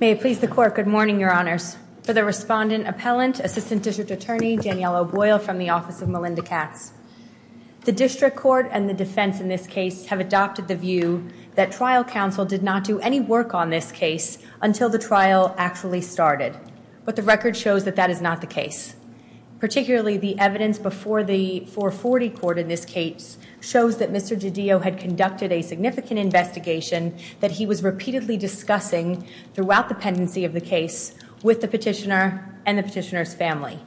May it please the court, good morning, your honors. For the respondent appellant, assistant district attorney Danielle O'Boyle from the office of Melinda Katz. The district court and the defense in this case have adopted the view that trial counsel did not do any work on this case until the trial actually started. But the record shows that that is not the case. Particularly the evidence before the 440 court in this case shows that Mr. DiDio had conducted a significant investigation that he was repeatedly discussing throughout the pendency of the case with the petitioner and the petitioner's family.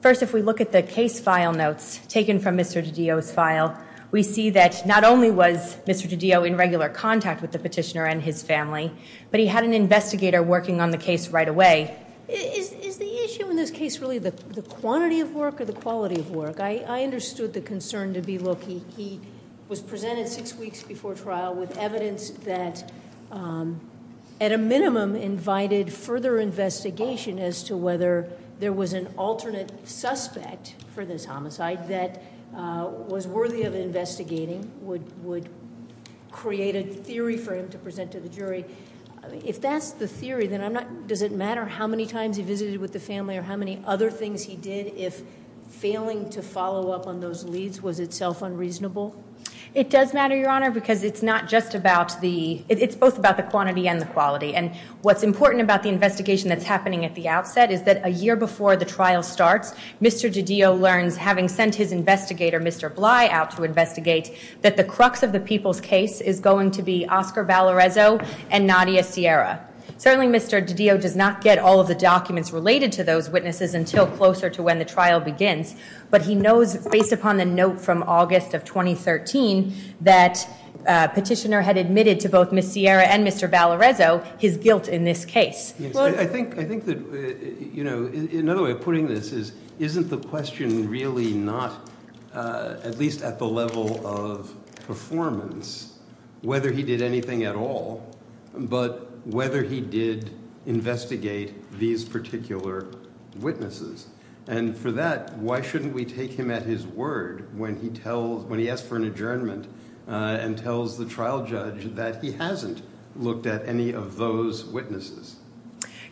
First if we look at the case file notes taken from Mr. DiDio's file, we see that not only was Mr. DiDio in regular contact with the petitioner and his family, but he had an investigator working on the case right away. Is the issue in this case really the quantity of work or the quality of work? I understood the concern to be look, he was presented six weeks before trial with evidence that at a minimum invited further investigation as to whether there was an alternate suspect for this homicide that was worthy of investigating, would create a theory for him to present to the jury. If that's the theory, does it matter how many times he visited with the family or how many other things he did if failing to follow up on those leads was itself unreasonable? It does matter, Your Honor, because it's not just about the, it's both about the quantity and the quality. And what's important about the investigation that's happening at the outset is that a year before the trial starts, Mr. DiDio learns, having sent his investigator, Mr. Bly, out to investigate, that the crux of the people's case is going to be Oscar Valarezo and Nadia Sierra. Certainly Mr. DiDio does not get all of the documents related to those witnesses until closer to when the trial begins, but he knows based upon the note from August of 2013 that petitioner had admitted to both Ms. Sierra and Mr. Valarezo his guilt in this case. I think that, you know, another way of putting this is, isn't the question really not, at least at the level of performance, whether he did anything at all, but whether he did investigate these particular witnesses? And for that, why shouldn't we take him at his word when he tells, when he asks for an adjournment and tells the trial judge that he hasn't looked at any of those witnesses?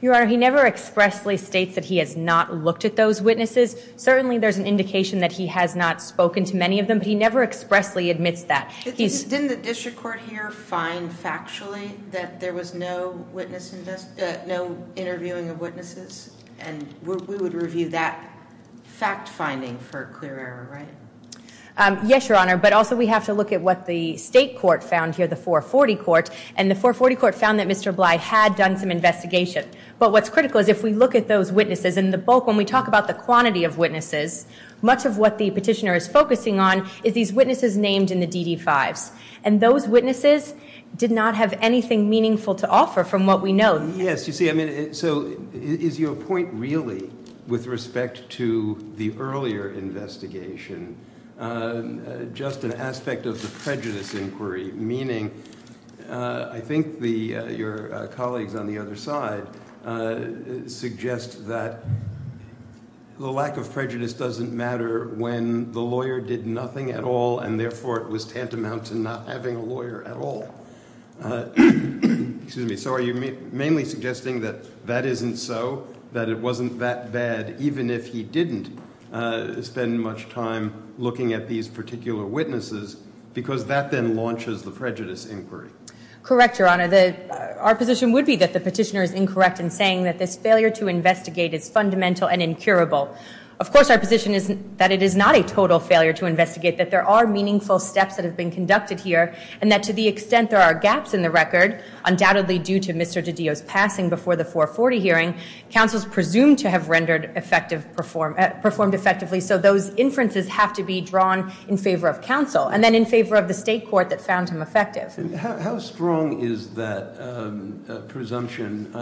Your Honor, he never expressly states that he has not looked at those witnesses. Certainly there's an indication that he has not spoken to many of them, but he never expressly admits that. Didn't the district court here find factually that there was no witness invest, no interviewing of witnesses? And we would review that fact finding for clear error, right? Yes, Your Honor, but also we have to look at what the state court found here, the 440 court, and the 440 court found that Mr. Bly had done some investigation. But what's critical is if we look at those witnesses in the bulk, when we talk about the quantity of witnesses, much of what the petitioner is focusing on is these witnesses named in the DD-5s. And those witnesses did not have anything meaningful to offer from what we know. Yes, you see, I mean, so is your point really with respect to the earlier investigation just an aspect of the prejudice inquiry, meaning I think your colleagues on the other side suggest that the lack of prejudice doesn't matter when the lawyer did nothing at all and therefore it was tantamount to not having a lawyer at all. So are you mainly suggesting that that isn't so, that it wasn't that bad even if he didn't spend much time looking at these particular witnesses because that then launches the prejudice inquiry? Correct, Your Honor. Our position would be that the petitioner is incorrect in saying that this failure to investigate is fundamental and incurable. Of course, our position is that it is not a total failure to investigate, that there are meaningful steps that have been conducted here, and that to the extent there are gaps in the record, undoubtedly due to Mr. DiDio's passing before the 440 hearing, counsel's presumed to have rendered effective, performed effectively, so those inferences have to be drawn in favor of counsel and then in favor of the state court that found him effective. How strong is that presumption?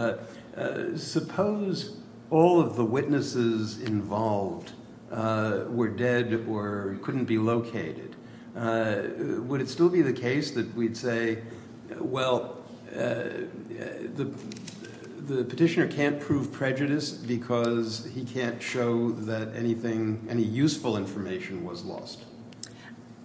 Suppose all of the witnesses involved were dead or couldn't be located. Would it still be the case that we'd say, well, the petitioner can't prove prejudice because he can't show that anything, any useful information was lost?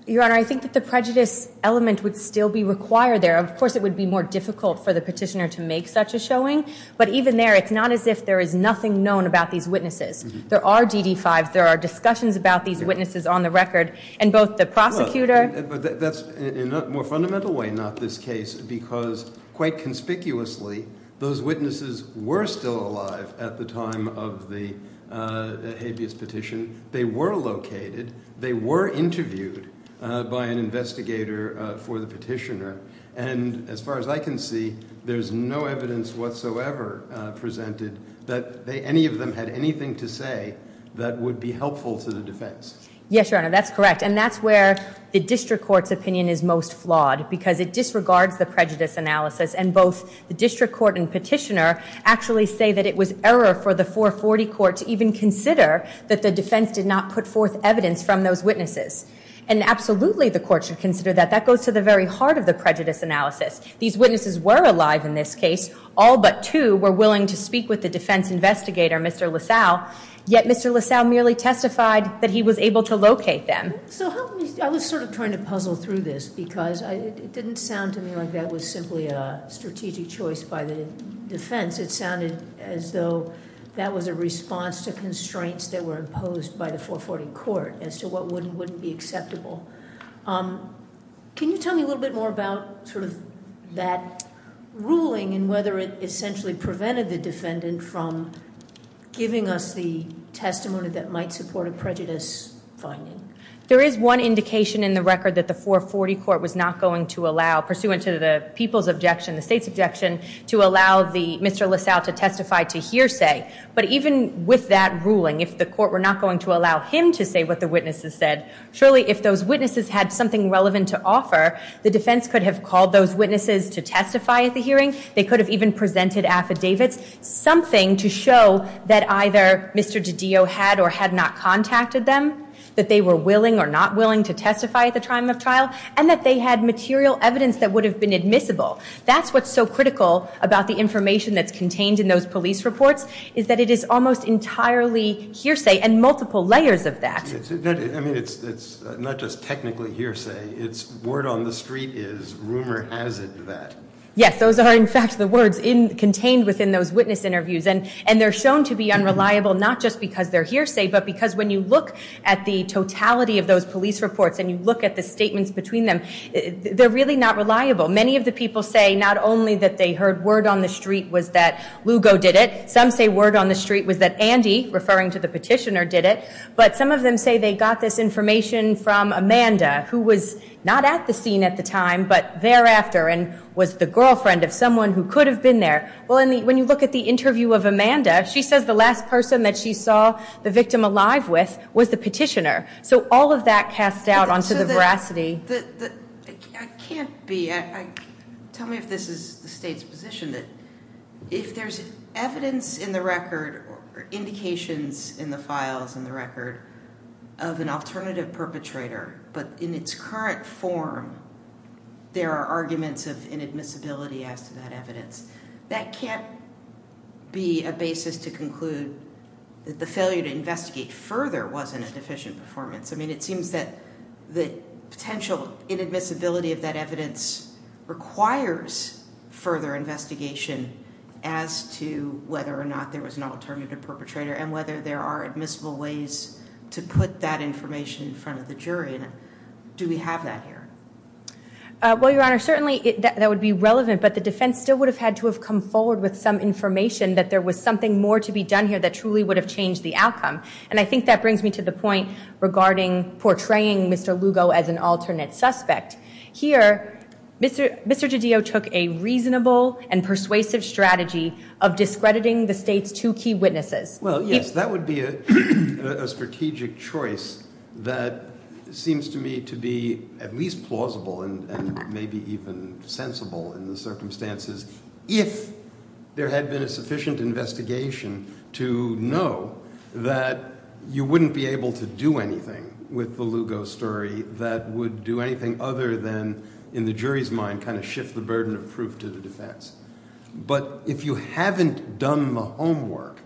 Your Honor, I think that the prejudice element would still be required there. Of course, it would be more difficult for the petitioner to make such a showing, but even there, it's not as if there is nothing known about these witnesses. There are DD-5s, there are discussions about these witnesses on the record, and both the prosecutor- But that's in a more fundamental way not this case, because quite conspicuously, those witnesses were still alive at the time of the habeas petition. They were located, they were interviewed by an investigator for the petitioner, and as far as I can see, there's no evidence whatsoever presented that any of them had anything to say that would be helpful to the defense. Yes, Your Honor, that's correct, and that's where the district court's opinion is most flawed, because it disregards the prejudice analysis, and both the district court and petitioner actually say that it was error for the 440 court to even consider that the defense did not put forth evidence from those witnesses, and absolutely the court should consider that. That goes to the very heart of the prejudice analysis. These witnesses were alive in this case, all but two were willing to speak with the defense investigator, Mr. LaSalle, yet Mr. LaSalle merely testified that he was able to locate them. So help me, I was sort of trying to puzzle through this, because it didn't sound to me like that was simply a strategic choice by the defense. It sounded as though that was a response to constraints that were imposed by the 440 court as to what would and wouldn't be acceptable. Can you tell me a little bit more about sort of that ruling and whether it essentially prevented the defendant from giving us the testimony that might support a prejudice finding? There is one indication in the record that the 440 court was not going to allow, pursuant to the people's objection, the state's objection, to allow Mr. LaSalle to testify to hearsay, but even with that ruling, if the court were not going to allow him to say what the witnesses said, surely if those witnesses had something relevant to offer, the defense could have called those witnesses to testify at the hearing. They could have even presented affidavits, something to show that either Mr. DiDio had or had not contacted them, that they were willing or not willing to testify at the time of trial, and that they had material evidence that would have been admissible. That's what's so critical about the information that's contained in those police reports, is that it is almost entirely hearsay and multiple layers of that. I mean, it's not just technically hearsay, it's word on the street is rumor has it that. Yes, those are in fact the words contained within those witness interviews, and they're shown to be unreliable not just because they're hearsay, but because when you look at the totality of those police reports and you look at the statements between them, they're really not reliable. Many of the people say not only that they heard word on the street was that Lugo did it, some say word on the street was that Andy, referring to the petitioner, did it. But some of them say they got this information from Amanda, who was not at the scene at the time, but thereafter, and was the girlfriend of someone who could have been there. Well, when you look at the interview of Amanda, she says the last person that she saw the victim alive with was the petitioner. So all of that casts doubt onto the veracity. I can't be, tell me if this is the state's position, that if there's evidence in the files, in the record, of an alternative perpetrator, but in its current form, there are arguments of inadmissibility as to that evidence, that can't be a basis to conclude that the failure to investigate further wasn't a deficient performance. I mean, it seems that the potential inadmissibility of that evidence requires further investigation as to whether or not there was an alternative perpetrator, and whether there are admissible ways to put that information in front of the jury. Do we have that here? Well, Your Honor, certainly that would be relevant, but the defense still would have had to have come forward with some information that there was something more to be done here that truly would have changed the outcome. And I think that brings me to the point regarding portraying Mr. Lugo as an alternate suspect. Here, Mr. DiDio took a reasonable and persuasive strategy of discrediting the state's two key witnesses. Well, yes, that would be a strategic choice that seems to me to be at least plausible and maybe even sensible in the circumstances, if there had been a sufficient investigation to know that you wouldn't be able to do anything with the Lugo story that would do anything other than, in the jury's mind, kind of shift the burden of proof to the defense. But if you haven't done the homework,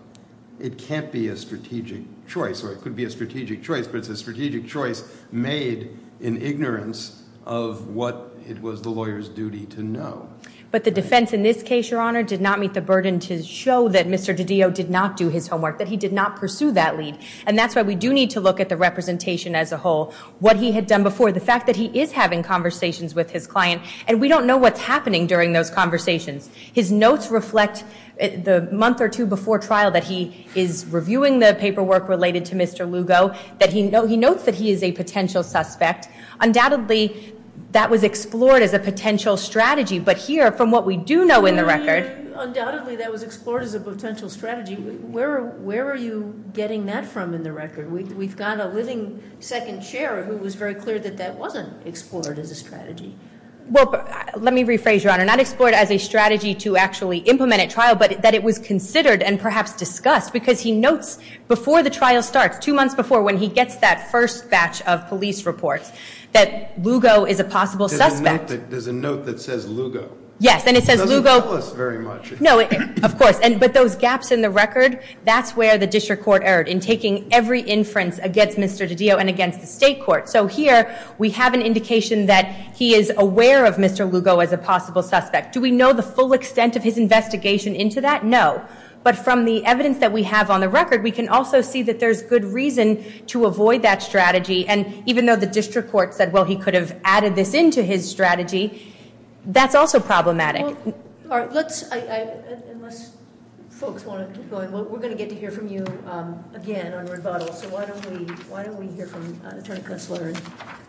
it can't be a strategic choice, or it could be a strategic choice, but it's a strategic choice made in ignorance of what it was the lawyer's duty to know. But the defense in this case, Your Honor, did not meet the burden to show that Mr. DiDio did not do his homework, that he did not pursue that lead. And that's why we do need to look at the representation as a whole, what he had done before, the fact that he is having conversations with his client, and we don't know what's happening during those conversations. His notes reflect the month or two before trial that he is reviewing the paperwork related to Mr. Lugo, that he notes that he is a potential suspect. Undoubtedly, that was explored as a potential strategy. But here, from what we do know in the record... Undoubtedly, that was explored as a potential strategy. Where are you getting that from in the record? We've got a living second chair who was very clear that that wasn't explored as a strategy. Well, let me rephrase, Your Honor. Not explored as a strategy to actually implement a trial, but that it was considered and perhaps discussed, because he notes before the trial starts, two months before, when he gets that first batch of police reports, that Lugo is a possible suspect. There's a note that says Lugo. Yes, and it says Lugo... It doesn't tell us very much. No, of course. But those gaps in the record, that's where the district court erred in taking every inference against Mr. DiDio and against the state court. So here, we have an indication that he is aware of Mr. Lugo as a possible suspect. Do we know the full extent of his investigation into that? No. But from the evidence that we have on the record, we can also see that there's good reason to avoid that strategy. And even though the district court said, well, he could have added this into his strategy, that's also problematic. Well, unless folks want to keep going, we're going to get to hear from you again on rebuttal. So why don't we hear from Attorney Consular,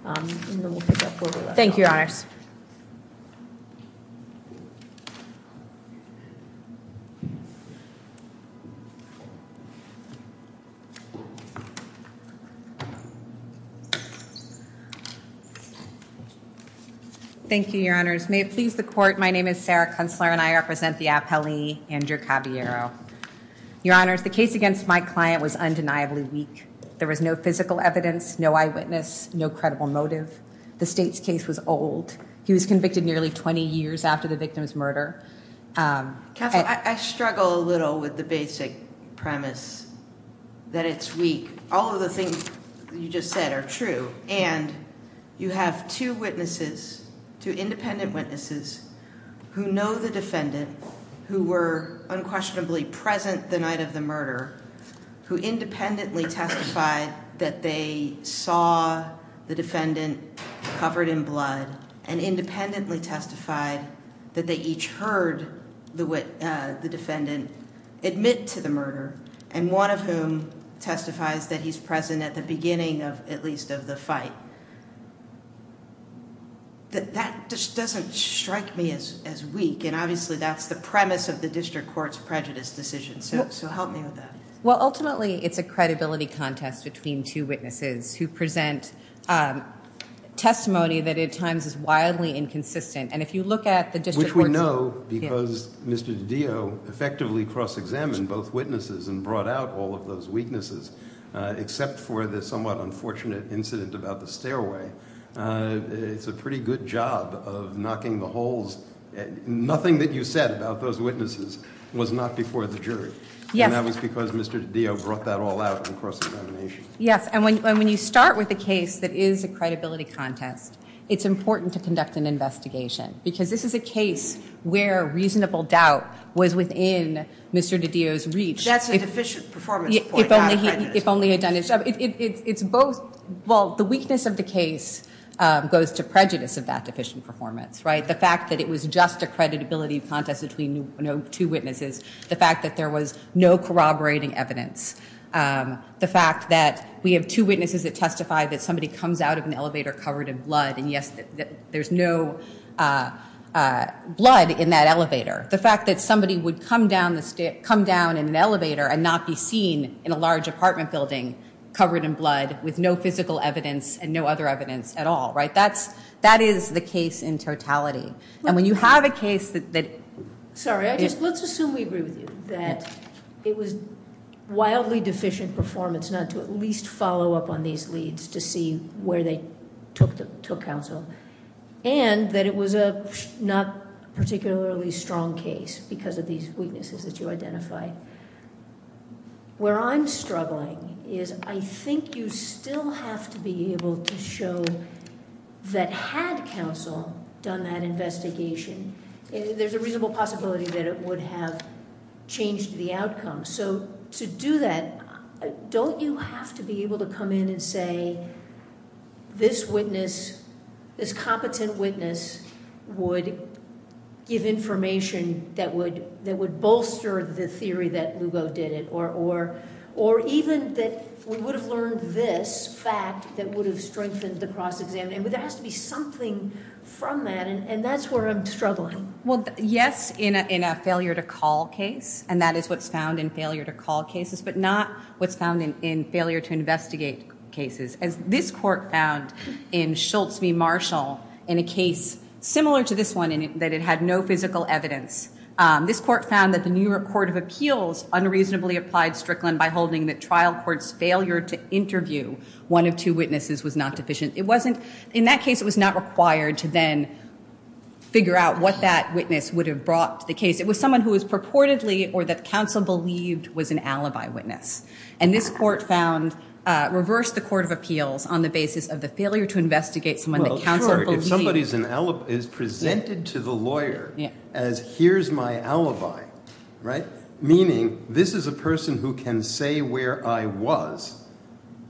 and then we'll pick up where we left off. Thank you, Your Honors. Thank you, Your Honors. May it please the court, my name is Sarah Consular, and I represent the appellee, Andrew Caballero. Your Honors, the case against my client was undeniably weak. There was no physical evidence, no eyewitness, no credible motive. The state's case was old. He was convicted nearly 20 years after the victim's murder. Counsel, I struggle a little with the basic premise that it's weak. All of the things you just said are true. And you have two witnesses, two independent witnesses, who know the defendant, who were unquestionably present the night of the murder, who independently testified that they saw the defendant covered in blood, and independently testified that they each heard the defendant admit to the murder, and one of whom testifies that he's present at the beginning of, at least, of the fight. That just doesn't strike me as weak, and obviously that's the premise of the district court's prejudice decision, so help me with that. Well, ultimately, it's a credibility contest between two witnesses who present testimony that at times is wildly inconsistent, and if you look at the district court's... Which we know because Mr. DiDio effectively cross-examined both witnesses and brought out all of those weaknesses, except for the somewhat unfortunate incident about the stairway. It's a pretty good job of knocking the holes. Nothing that you said about those witnesses was not before the jury, and that was because Mr. DiDio brought that all out in cross-examination. Yes, and when you start with a case that is a credibility contest, it's important to conduct an investigation, because this is a case where reasonable doubt was within Mr. DiDio's reach. That's a deficient performance point, not a prejudice. If only he had done his job. Well, the weakness of the case goes to prejudice of that deficient performance, right? The fact that it was just a creditability contest between two witnesses, the fact that there was no corroborating evidence, the fact that we have two witnesses that testify that somebody comes out of an elevator covered in blood, and yes, there's no blood in that elevator. The fact that somebody would come down in an elevator and not be seen in a large apartment building covered in blood with no physical evidence and no other evidence at all, right? That is the case in totality, and when you have a case that- Sorry, let's assume we agree with you, that it was wildly deficient performance not to at least follow up on these leads to see where they took counsel, and that it was a not particularly strong case because of these weaknesses that you identified. Where I'm struggling is I think you still have to be able to show that had counsel done that investigation, there's a reasonable possibility that it would have changed the outcome. To do that, don't you have to be able to come in and say, this witness, this competent witness would give information that would bolster the theory that Lugo did it, or even that we would have learned this fact that would have strengthened the cross-examination? There has to be something from that, and that's where I'm struggling. Well, yes, in a failure to call case, and that is what's found in failure to call cases, but not what's found in failure to investigate cases. As this court found in Schultz v. Marshall in a case similar to this one in that it had no physical evidence, this court found that the New York Court of Appeals unreasonably applied Strickland by holding that trial court's failure to interview one of two witnesses was not deficient. It wasn't, in that case, it was not required to then figure out what that witness would have brought to the case. It was someone who was purportedly, or that counsel believed, was an alibi witness, and this court found, reversed the court of appeals on the basis of the failure to investigate someone that counsel believed. If somebody is presented to the lawyer as, here's my alibi, right? Meaning, this is a person who can say where I was,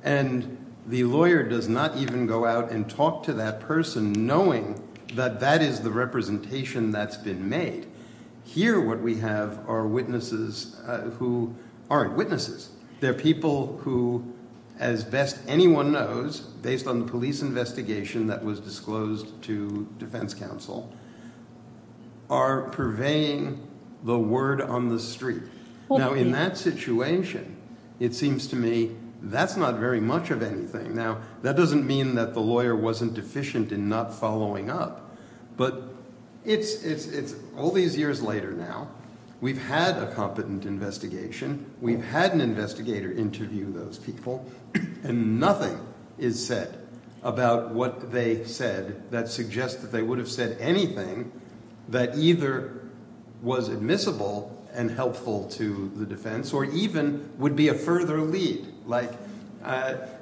and the lawyer does not even go out and talk to that person knowing that that is the representation that's been made. Here, what we have are witnesses who aren't witnesses. They're people who, as best anyone knows, based on the police investigation that was disclosed to defense counsel, are purveying the word on the street. Now, in that situation, it seems to me that's not very much of anything. Now, that doesn't mean that the lawyer wasn't deficient in not following up, but it's all these years later now. We've had a competent investigation. We've had an investigator interview those people, and nothing is said about what they said that suggests that they would have said anything that either was admissible and helpful to the defense, or even would be a further lead. I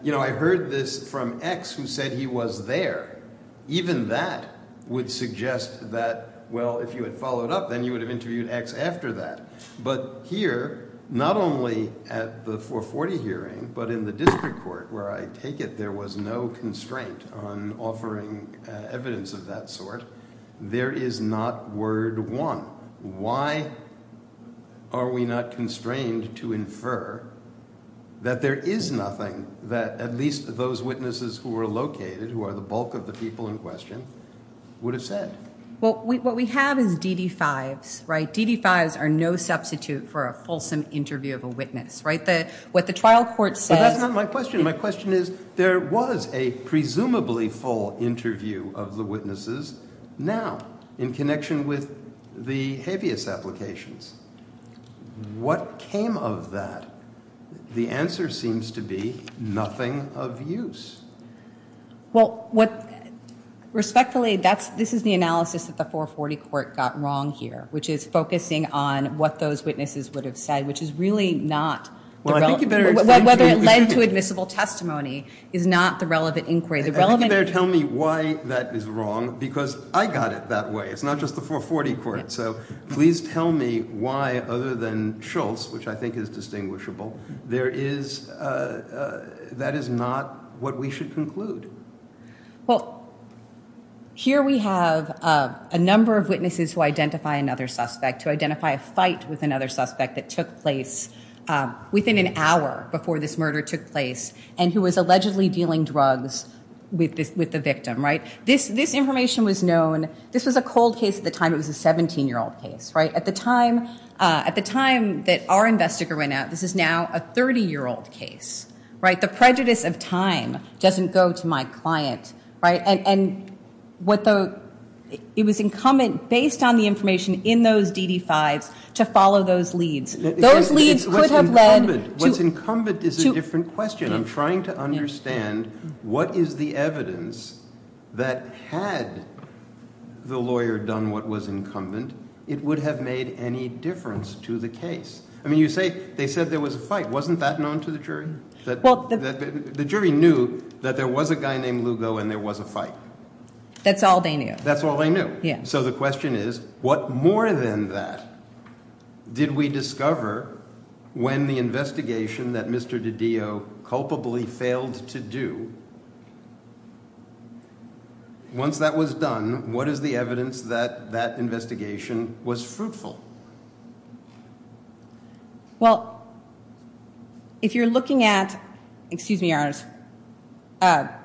heard this from X, who said he was there. Even that would suggest that, well, if you had followed up, then you would have interviewed X after that. But here, not only at the 440 hearing, but in the district court where I take it there was no constraint on offering evidence of that sort, there is not word one. Why are we not constrained to infer that there is nothing that at least those witnesses who were located, who are the bulk of people in question, would have said? Well, what we have is DD-5s, right? DD-5s are no substitute for a fulsome interview of a witness, right? What the trial court says... But that's not my question. My question is, there was a presumably full interview of the witnesses now in connection with the habeas applications. What came of that? The answer seems to be nothing of use. Well, what... Respectfully, this is the analysis that the 440 court got wrong here, which is focusing on what those witnesses would have said, which is really not... Well, I think you better explain... Whether it led to admissible testimony is not the relevant inquiry. I think you better tell me why that is wrong, because I got it that way. It's not just the 440 court. So please tell me why, other than Schultz, which I think is distinguishable, there is... That is not what we should conclude. Well, here we have a number of witnesses who identify another suspect, who identify a fight with another suspect that took place within an hour before this murder took place, and who was allegedly dealing drugs with the victim, right? This information was known... This was a cold case at the time. It was a 17-year-old case, right? At the time that our investigator went out, this is now a 30-year-old case, right? The prejudice of time doesn't go to my client, right? And what the... It was incumbent, based on the information in those DD-5s, to follow those leads. Those leads could have led to... What's incumbent is a different question. I'm trying to understand what is the evidence that had the lawyer done what was incumbent, it would have made any difference to the case. I mean, you say they said there was a fight. Wasn't that known to the jury? The jury knew that there was a guy named Lugo and there was a fight. That's all they knew. That's all they knew. So the question is, what more than that did we discover when the investigation that Mr. DiDio culpably failed to do? Once that was done, what is the evidence that that investigation was fruitful? Well, if you're looking at... Excuse me, Your Honor.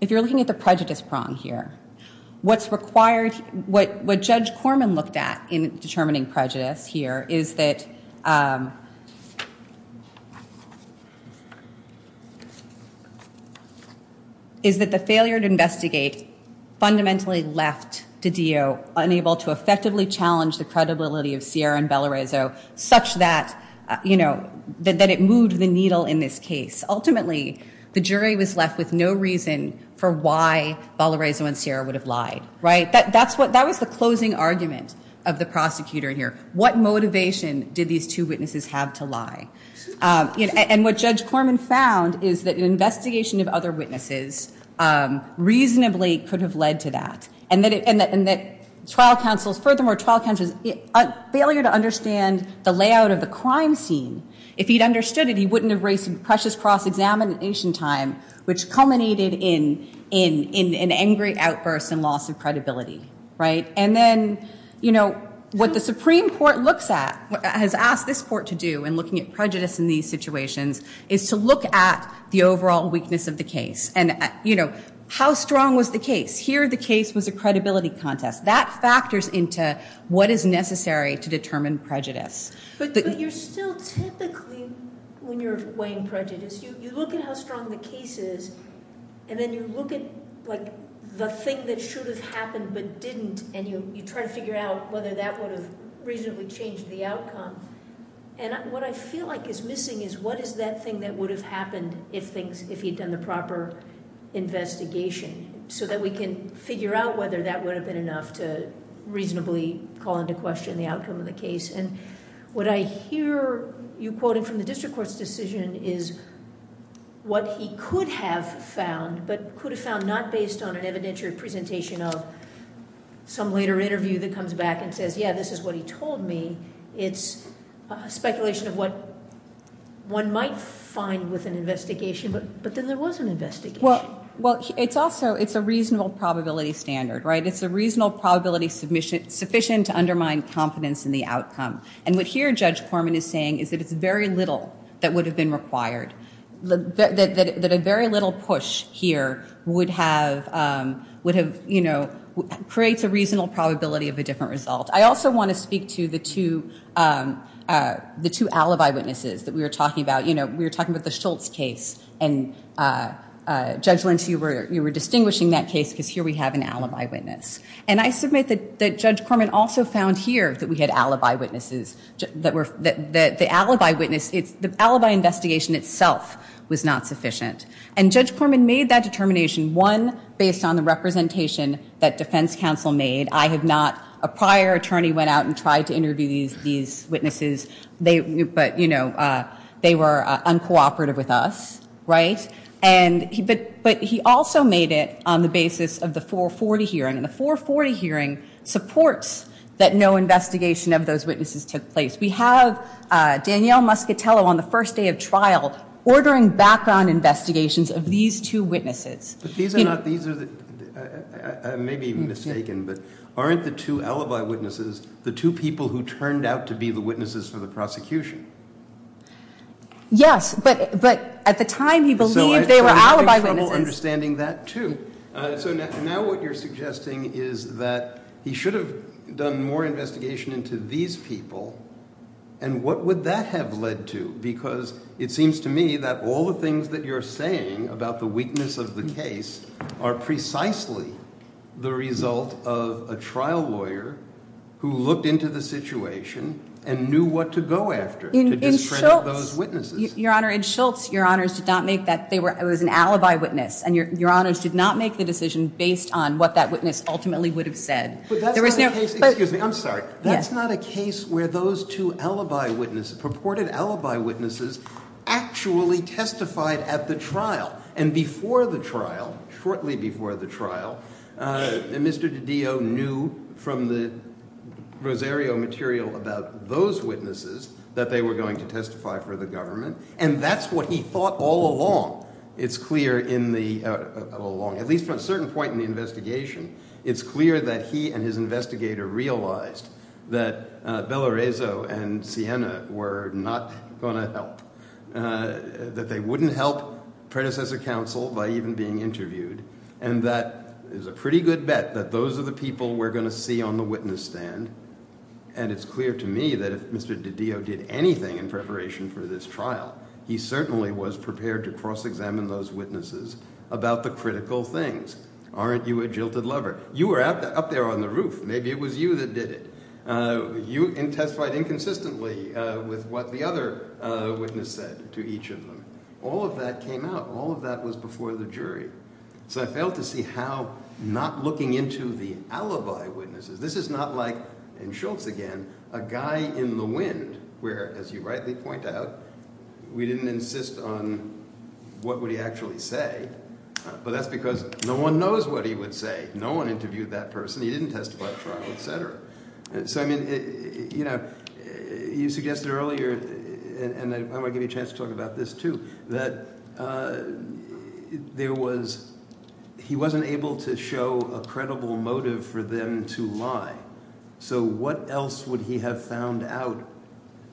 If you're looking at the prejudice prong here, what's required... What Judge Corman looked at in determining prejudice here is that the failure to investigate fundamentally left DiDio unable to effectively challenge the credibility of Sierra and Valorizo such that it moved the needle in this case. Ultimately, the jury was left with no reason for why Valorizo and Sierra would have lied, right? That was the closing argument of the prosecutor here. What motivation did these two witnesses have to lie? And what Judge Corman found is that an investigation of other witnesses reasonably could have led to that, and that trial counsels... Furthermore, trial counsels' failure to understand the layout of the crime scene, if he'd understood it, he wouldn't have raised some precious cross-examination time, which culminated in an angry outburst and loss of credibility, right? And then, you know, what the Supreme Court looks at, has asked this court to do in looking at prejudice in these situations, is to look at the overall weakness of the case and, you know, how strong was the case? Here, the case was a credibility contest. That factors into what is necessary to determine prejudice. But you're still typically, when you're weighing prejudice, you look at how strong the case is, and then you look at, like, the thing that should have happened but didn't, and you try to figure out whether that would have reasonably changed the outcome. And what I feel like is missing is what is that thing that would have happened if he'd done the proper investigation, so that we can figure out whether that would have been enough to reasonably call into question the outcome of the case. And what I hear you quoting from the district court's decision is, what he could have found, but could have found not based on an evidentiary presentation of some later interview that comes back and says, yeah, this is what he told me. It's a speculation of what one might find with an investigation, but then there was an investigation. Well, it's also, it's a reasonable probability standard, right? It's a reasonable probability submission sufficient to undermine confidence in the outcome. And what here Judge Corman is saying is that it's very little that would have been required, that a very little push here would have, you know, creates a reasonable probability of a different result. I also want to speak to the two alibi witnesses that we were talking about. You know, we were talking about the Schultz case, and Judge Lentz, you were distinguishing that case because here we have an alibi witness. And I submit that Judge Corman also found here that we had alibi witnesses, that the alibi witness, the alibi investigation itself was not sufficient. And Judge Corman made that determination, one, based on the representation that defense counsel made. I have not, a prior attorney went out and tried to interview these witnesses, but you know, they were uncooperative with us, right? And, but he also made it on the basis of the 440 hearing. And the 440 hearing supports that no investigation of those witnesses took place. We have Danielle Muscatello on the first day of trial ordering background investigations of these two witnesses. But these are not, these are the, I may be mistaken, but aren't the two alibi witnesses the two people who turned out to be the witnesses for the prosecution? Yes, but, but at the time he believed they were alibi witnesses. Understanding that too. So now what you're suggesting is that he should have done more investigation into these people. And what would that have led to? Because it seems to me that all the things that you're saying about the weakness of the case are precisely the result of a trial lawyer who looked into the situation and knew what to go after to discredit those witnesses. Your honor, Ed Schultz, your honors did not make that, they were, it was an alibi witness and your honors did not make the decision based on what that witness ultimately would have said. But that's not a case, excuse me, I'm sorry, that's not a case where those two alibi witnesses, purported alibi witnesses, actually testified at the trial. And before the trial, shortly before the trial, Mr. DiDio knew from the Rosario material about those witnesses that they were going to testify for the government. And that's what he thought all along. It's clear in the, all along, at least from a certain point in the investigation, it's clear that he and his investigator realized that Beloreso and Sienna were not going to help, that they wouldn't help predecessor counsel by even being interviewed. And that is a pretty good bet that those are the people we're going to see on the witness stand. And it's clear to me that if Mr. DiDio did anything in preparation for this trial, he certainly was prepared to cross-examine those witnesses about the critical things. Aren't you a jilted lover? You were up there on the roof, maybe it was you that did it. You testified inconsistently with what the other witness said to each of them. All of that came out, all of that was before the jury. So I failed to see how not looking into the alibi witnesses, this is not like, and Schultz again, a guy in the wind where, as you rightly point out, we didn't insist on what would he actually say. But that's because no one knows what he would say. No one interviewed that person. He didn't testify at trial, et cetera. So I mean, you suggested earlier, and I want to give you a chance to talk about this too, that there was, he wasn't able to show a credible motive for them to lie. So what else would he have found out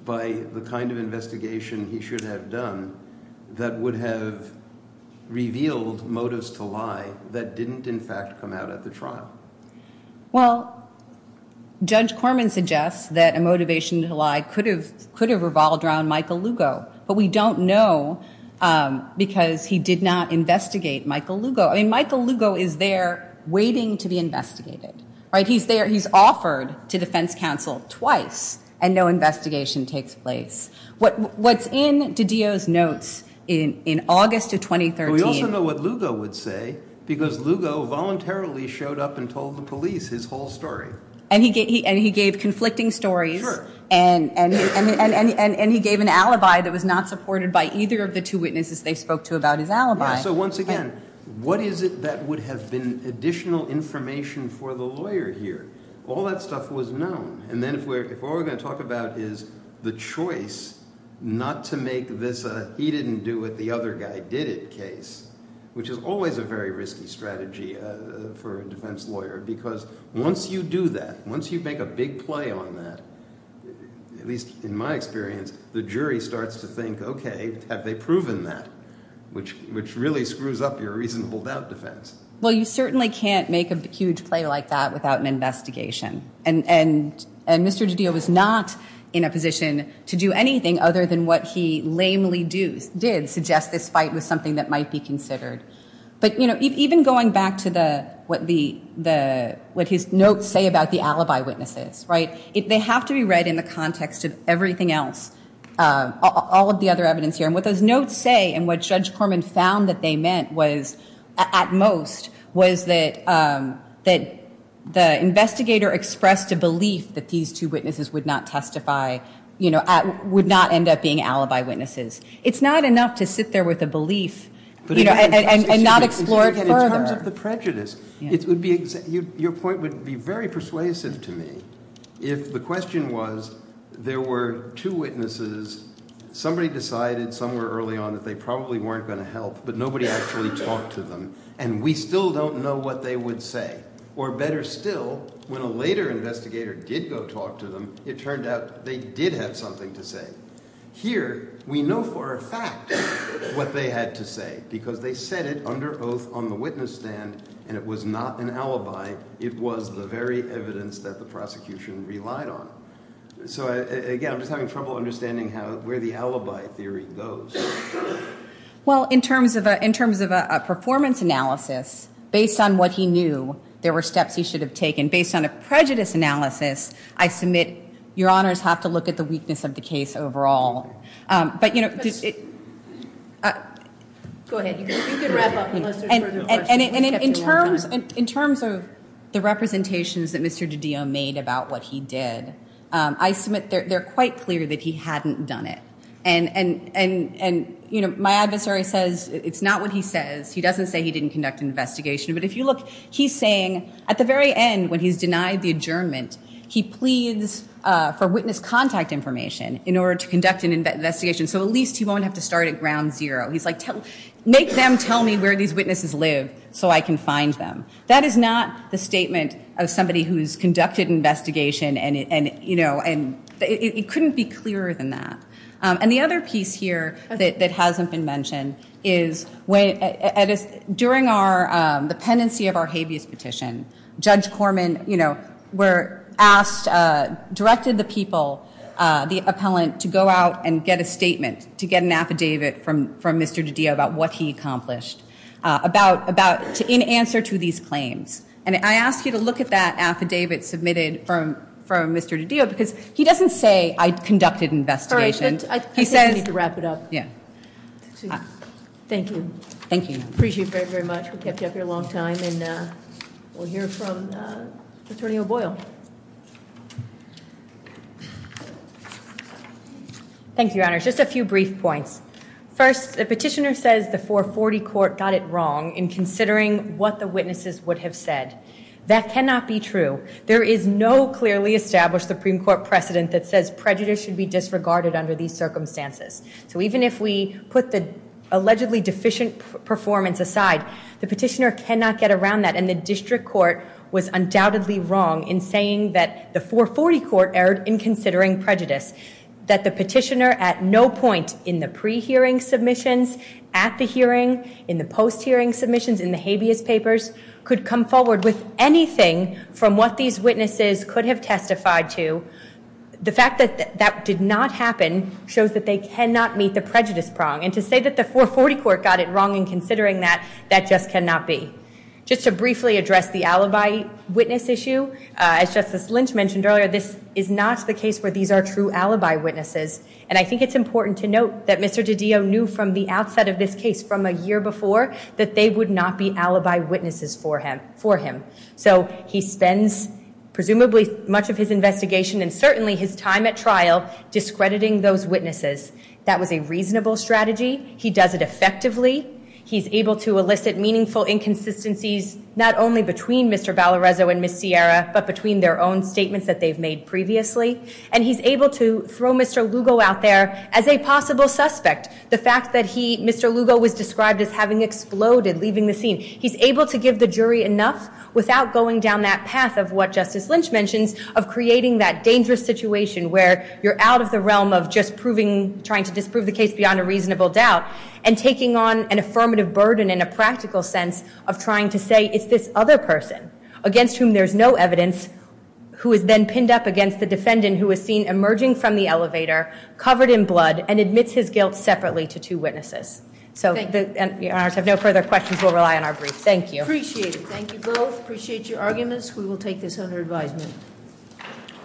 by the kind of investigation he should have done that would have revealed motives to lie that didn't in fact come out at the trial? Well, Judge Corman suggests that a motivation to lie could have revolved around Michael Lugo, but we don't know because he did not investigate Michael Lugo. I mean, Michael Lugo is there waiting to be investigated, right? He's there, he's offered to defense counsel twice and no investigation takes place. What's in DiDio's notes in August of 2013- We also know what Lugo would say because Lugo voluntarily showed up and told the police his whole story. And he gave conflicting stories and he gave an alibi that was not supported by either of the two witnesses they spoke to about his alibi. So once again, what is it that would have been additional information for the lawyer here? All that stuff was known. And then if we're going to talk about is the choice not to make this a he didn't do it, the other guy did it case, which is always a very risky strategy for a defense lawyer, because once you do that, once you make a big play on that, at least in my experience, the jury starts to think, okay, have they proven that? Which really screws up your reasonable doubt defense. Well, you certainly can't make a huge play like that without an investigation. And Mr. DiDio was not in a position to do anything other than what he lamely did suggest this fight was something that might be considered. But even going back to what his notes say about the alibi witnesses, they have to be read in the context of everything else, all of the other evidence here. And what those notes say and what Judge Corman found that they meant was, at most, was that the investigator expressed a belief that these two witnesses would not testify, would not end up being alibi witnesses. It's not enough to sit there with a belief and not explore it further. In terms of the prejudice, your point would be very persuasive to me if the question was, there were two witnesses, somebody decided somewhere early on that they probably weren't going to help, but nobody actually talked to them, and we still don't know what they would say. Or better still, when a later investigator did go talk to them, it turned out they did have something to say. Here, we know for a fact what they had to say, because they said it under oath on the witness stand, and it was not an alibi. It was the very evidence that the prosecution relied on. So again, I'm just having trouble understanding where the alibi theory goes. Well, in terms of a performance analysis, based on what he knew, there were steps he should have taken. Based on a prejudice analysis, I submit your honors have to look at the weakness of the question. In terms of the representations that Mr. DiDio made about what he did, I submit they're quite clear that he hadn't done it. And my adversary says it's not what he says. He doesn't say he didn't conduct an investigation. But if you look, he's saying at the very end, when he's denied the adjournment, he pleads for witness contact information in order to conduct an investigation, so at least he won't have to start at ground zero. He's like, make them tell me where these witnesses live so I can find them. That is not the statement of somebody who's conducted an investigation, and it couldn't be clearer than that. And the other piece here that hasn't been mentioned is during the pendency of our habeas petition, Judge Corman directed the people, the appellant, to go out and get a statement, to get an affidavit from Mr. DiDio about what he accomplished, in answer to these claims. And I ask you to look at that affidavit submitted from Mr. DiDio, because he doesn't say, I conducted an investigation. All right, but I think we need to wrap it up. Thank you. Thank you. Appreciate it very, very much. We kept you up here a long time, and we'll hear from Attorney O'Boyle. Thank you, Your Honor. Just a few brief points. First, the petitioner says the 440 Court got it wrong in considering what the witnesses would have said. That cannot be true. There is no clearly established Supreme Court precedent that says prejudice should be disregarded under these circumstances. So even if we put the allegedly deficient performance aside, the petitioner cannot get around that, and the district court was undoubtedly wrong in saying that the 440 Court erred in considering prejudice. That the petitioner at no point in the pre-hearing submissions, at the hearing, in the post-hearing submissions, in the habeas papers, could come forward with anything from what these witnesses could have testified to. The fact that that did not happen shows that they cannot meet the prejudice prong, and to say that the 440 Court got it wrong in considering that, that just cannot be. Just to briefly address the alibi witness issue, as Justice Lynch mentioned earlier, this is not the case where these are true alibi witnesses, and I think it's important to note that Mr. DiDio knew from the outset of this case, from a year before, that they would not be alibi witnesses for him. So he spends presumably much of his investigation and certainly his time at trial discrediting those witnesses. That was a reasonable strategy. He does it effectively. He's able to elicit meaningful inconsistencies, not only between Mr. Valarezo and Ms. Sierra, but between their own statements that they've made previously. And he's able to throw Mr. Lugo out there as a possible suspect. The fact that he, Mr. Lugo, was described as having exploded, leaving the scene. He's able to give the jury enough without going down that path of what Justice Lynch mentions, of creating that dangerous situation where you're out of the realm of just proving, trying to disprove the case beyond a reasonable doubt, and taking on an affirmative burden in a practical sense of trying to say, it's this other person, against whom there's no evidence, who is then pinned up against the defendant, who is seen emerging from the elevator, covered in blood, and admits his guilt separately to two witnesses. So the honors have no further questions. We'll rely on our brief. Thank you. Appreciate it. Thank you both. Appreciate your arguments. We will take this under advisement.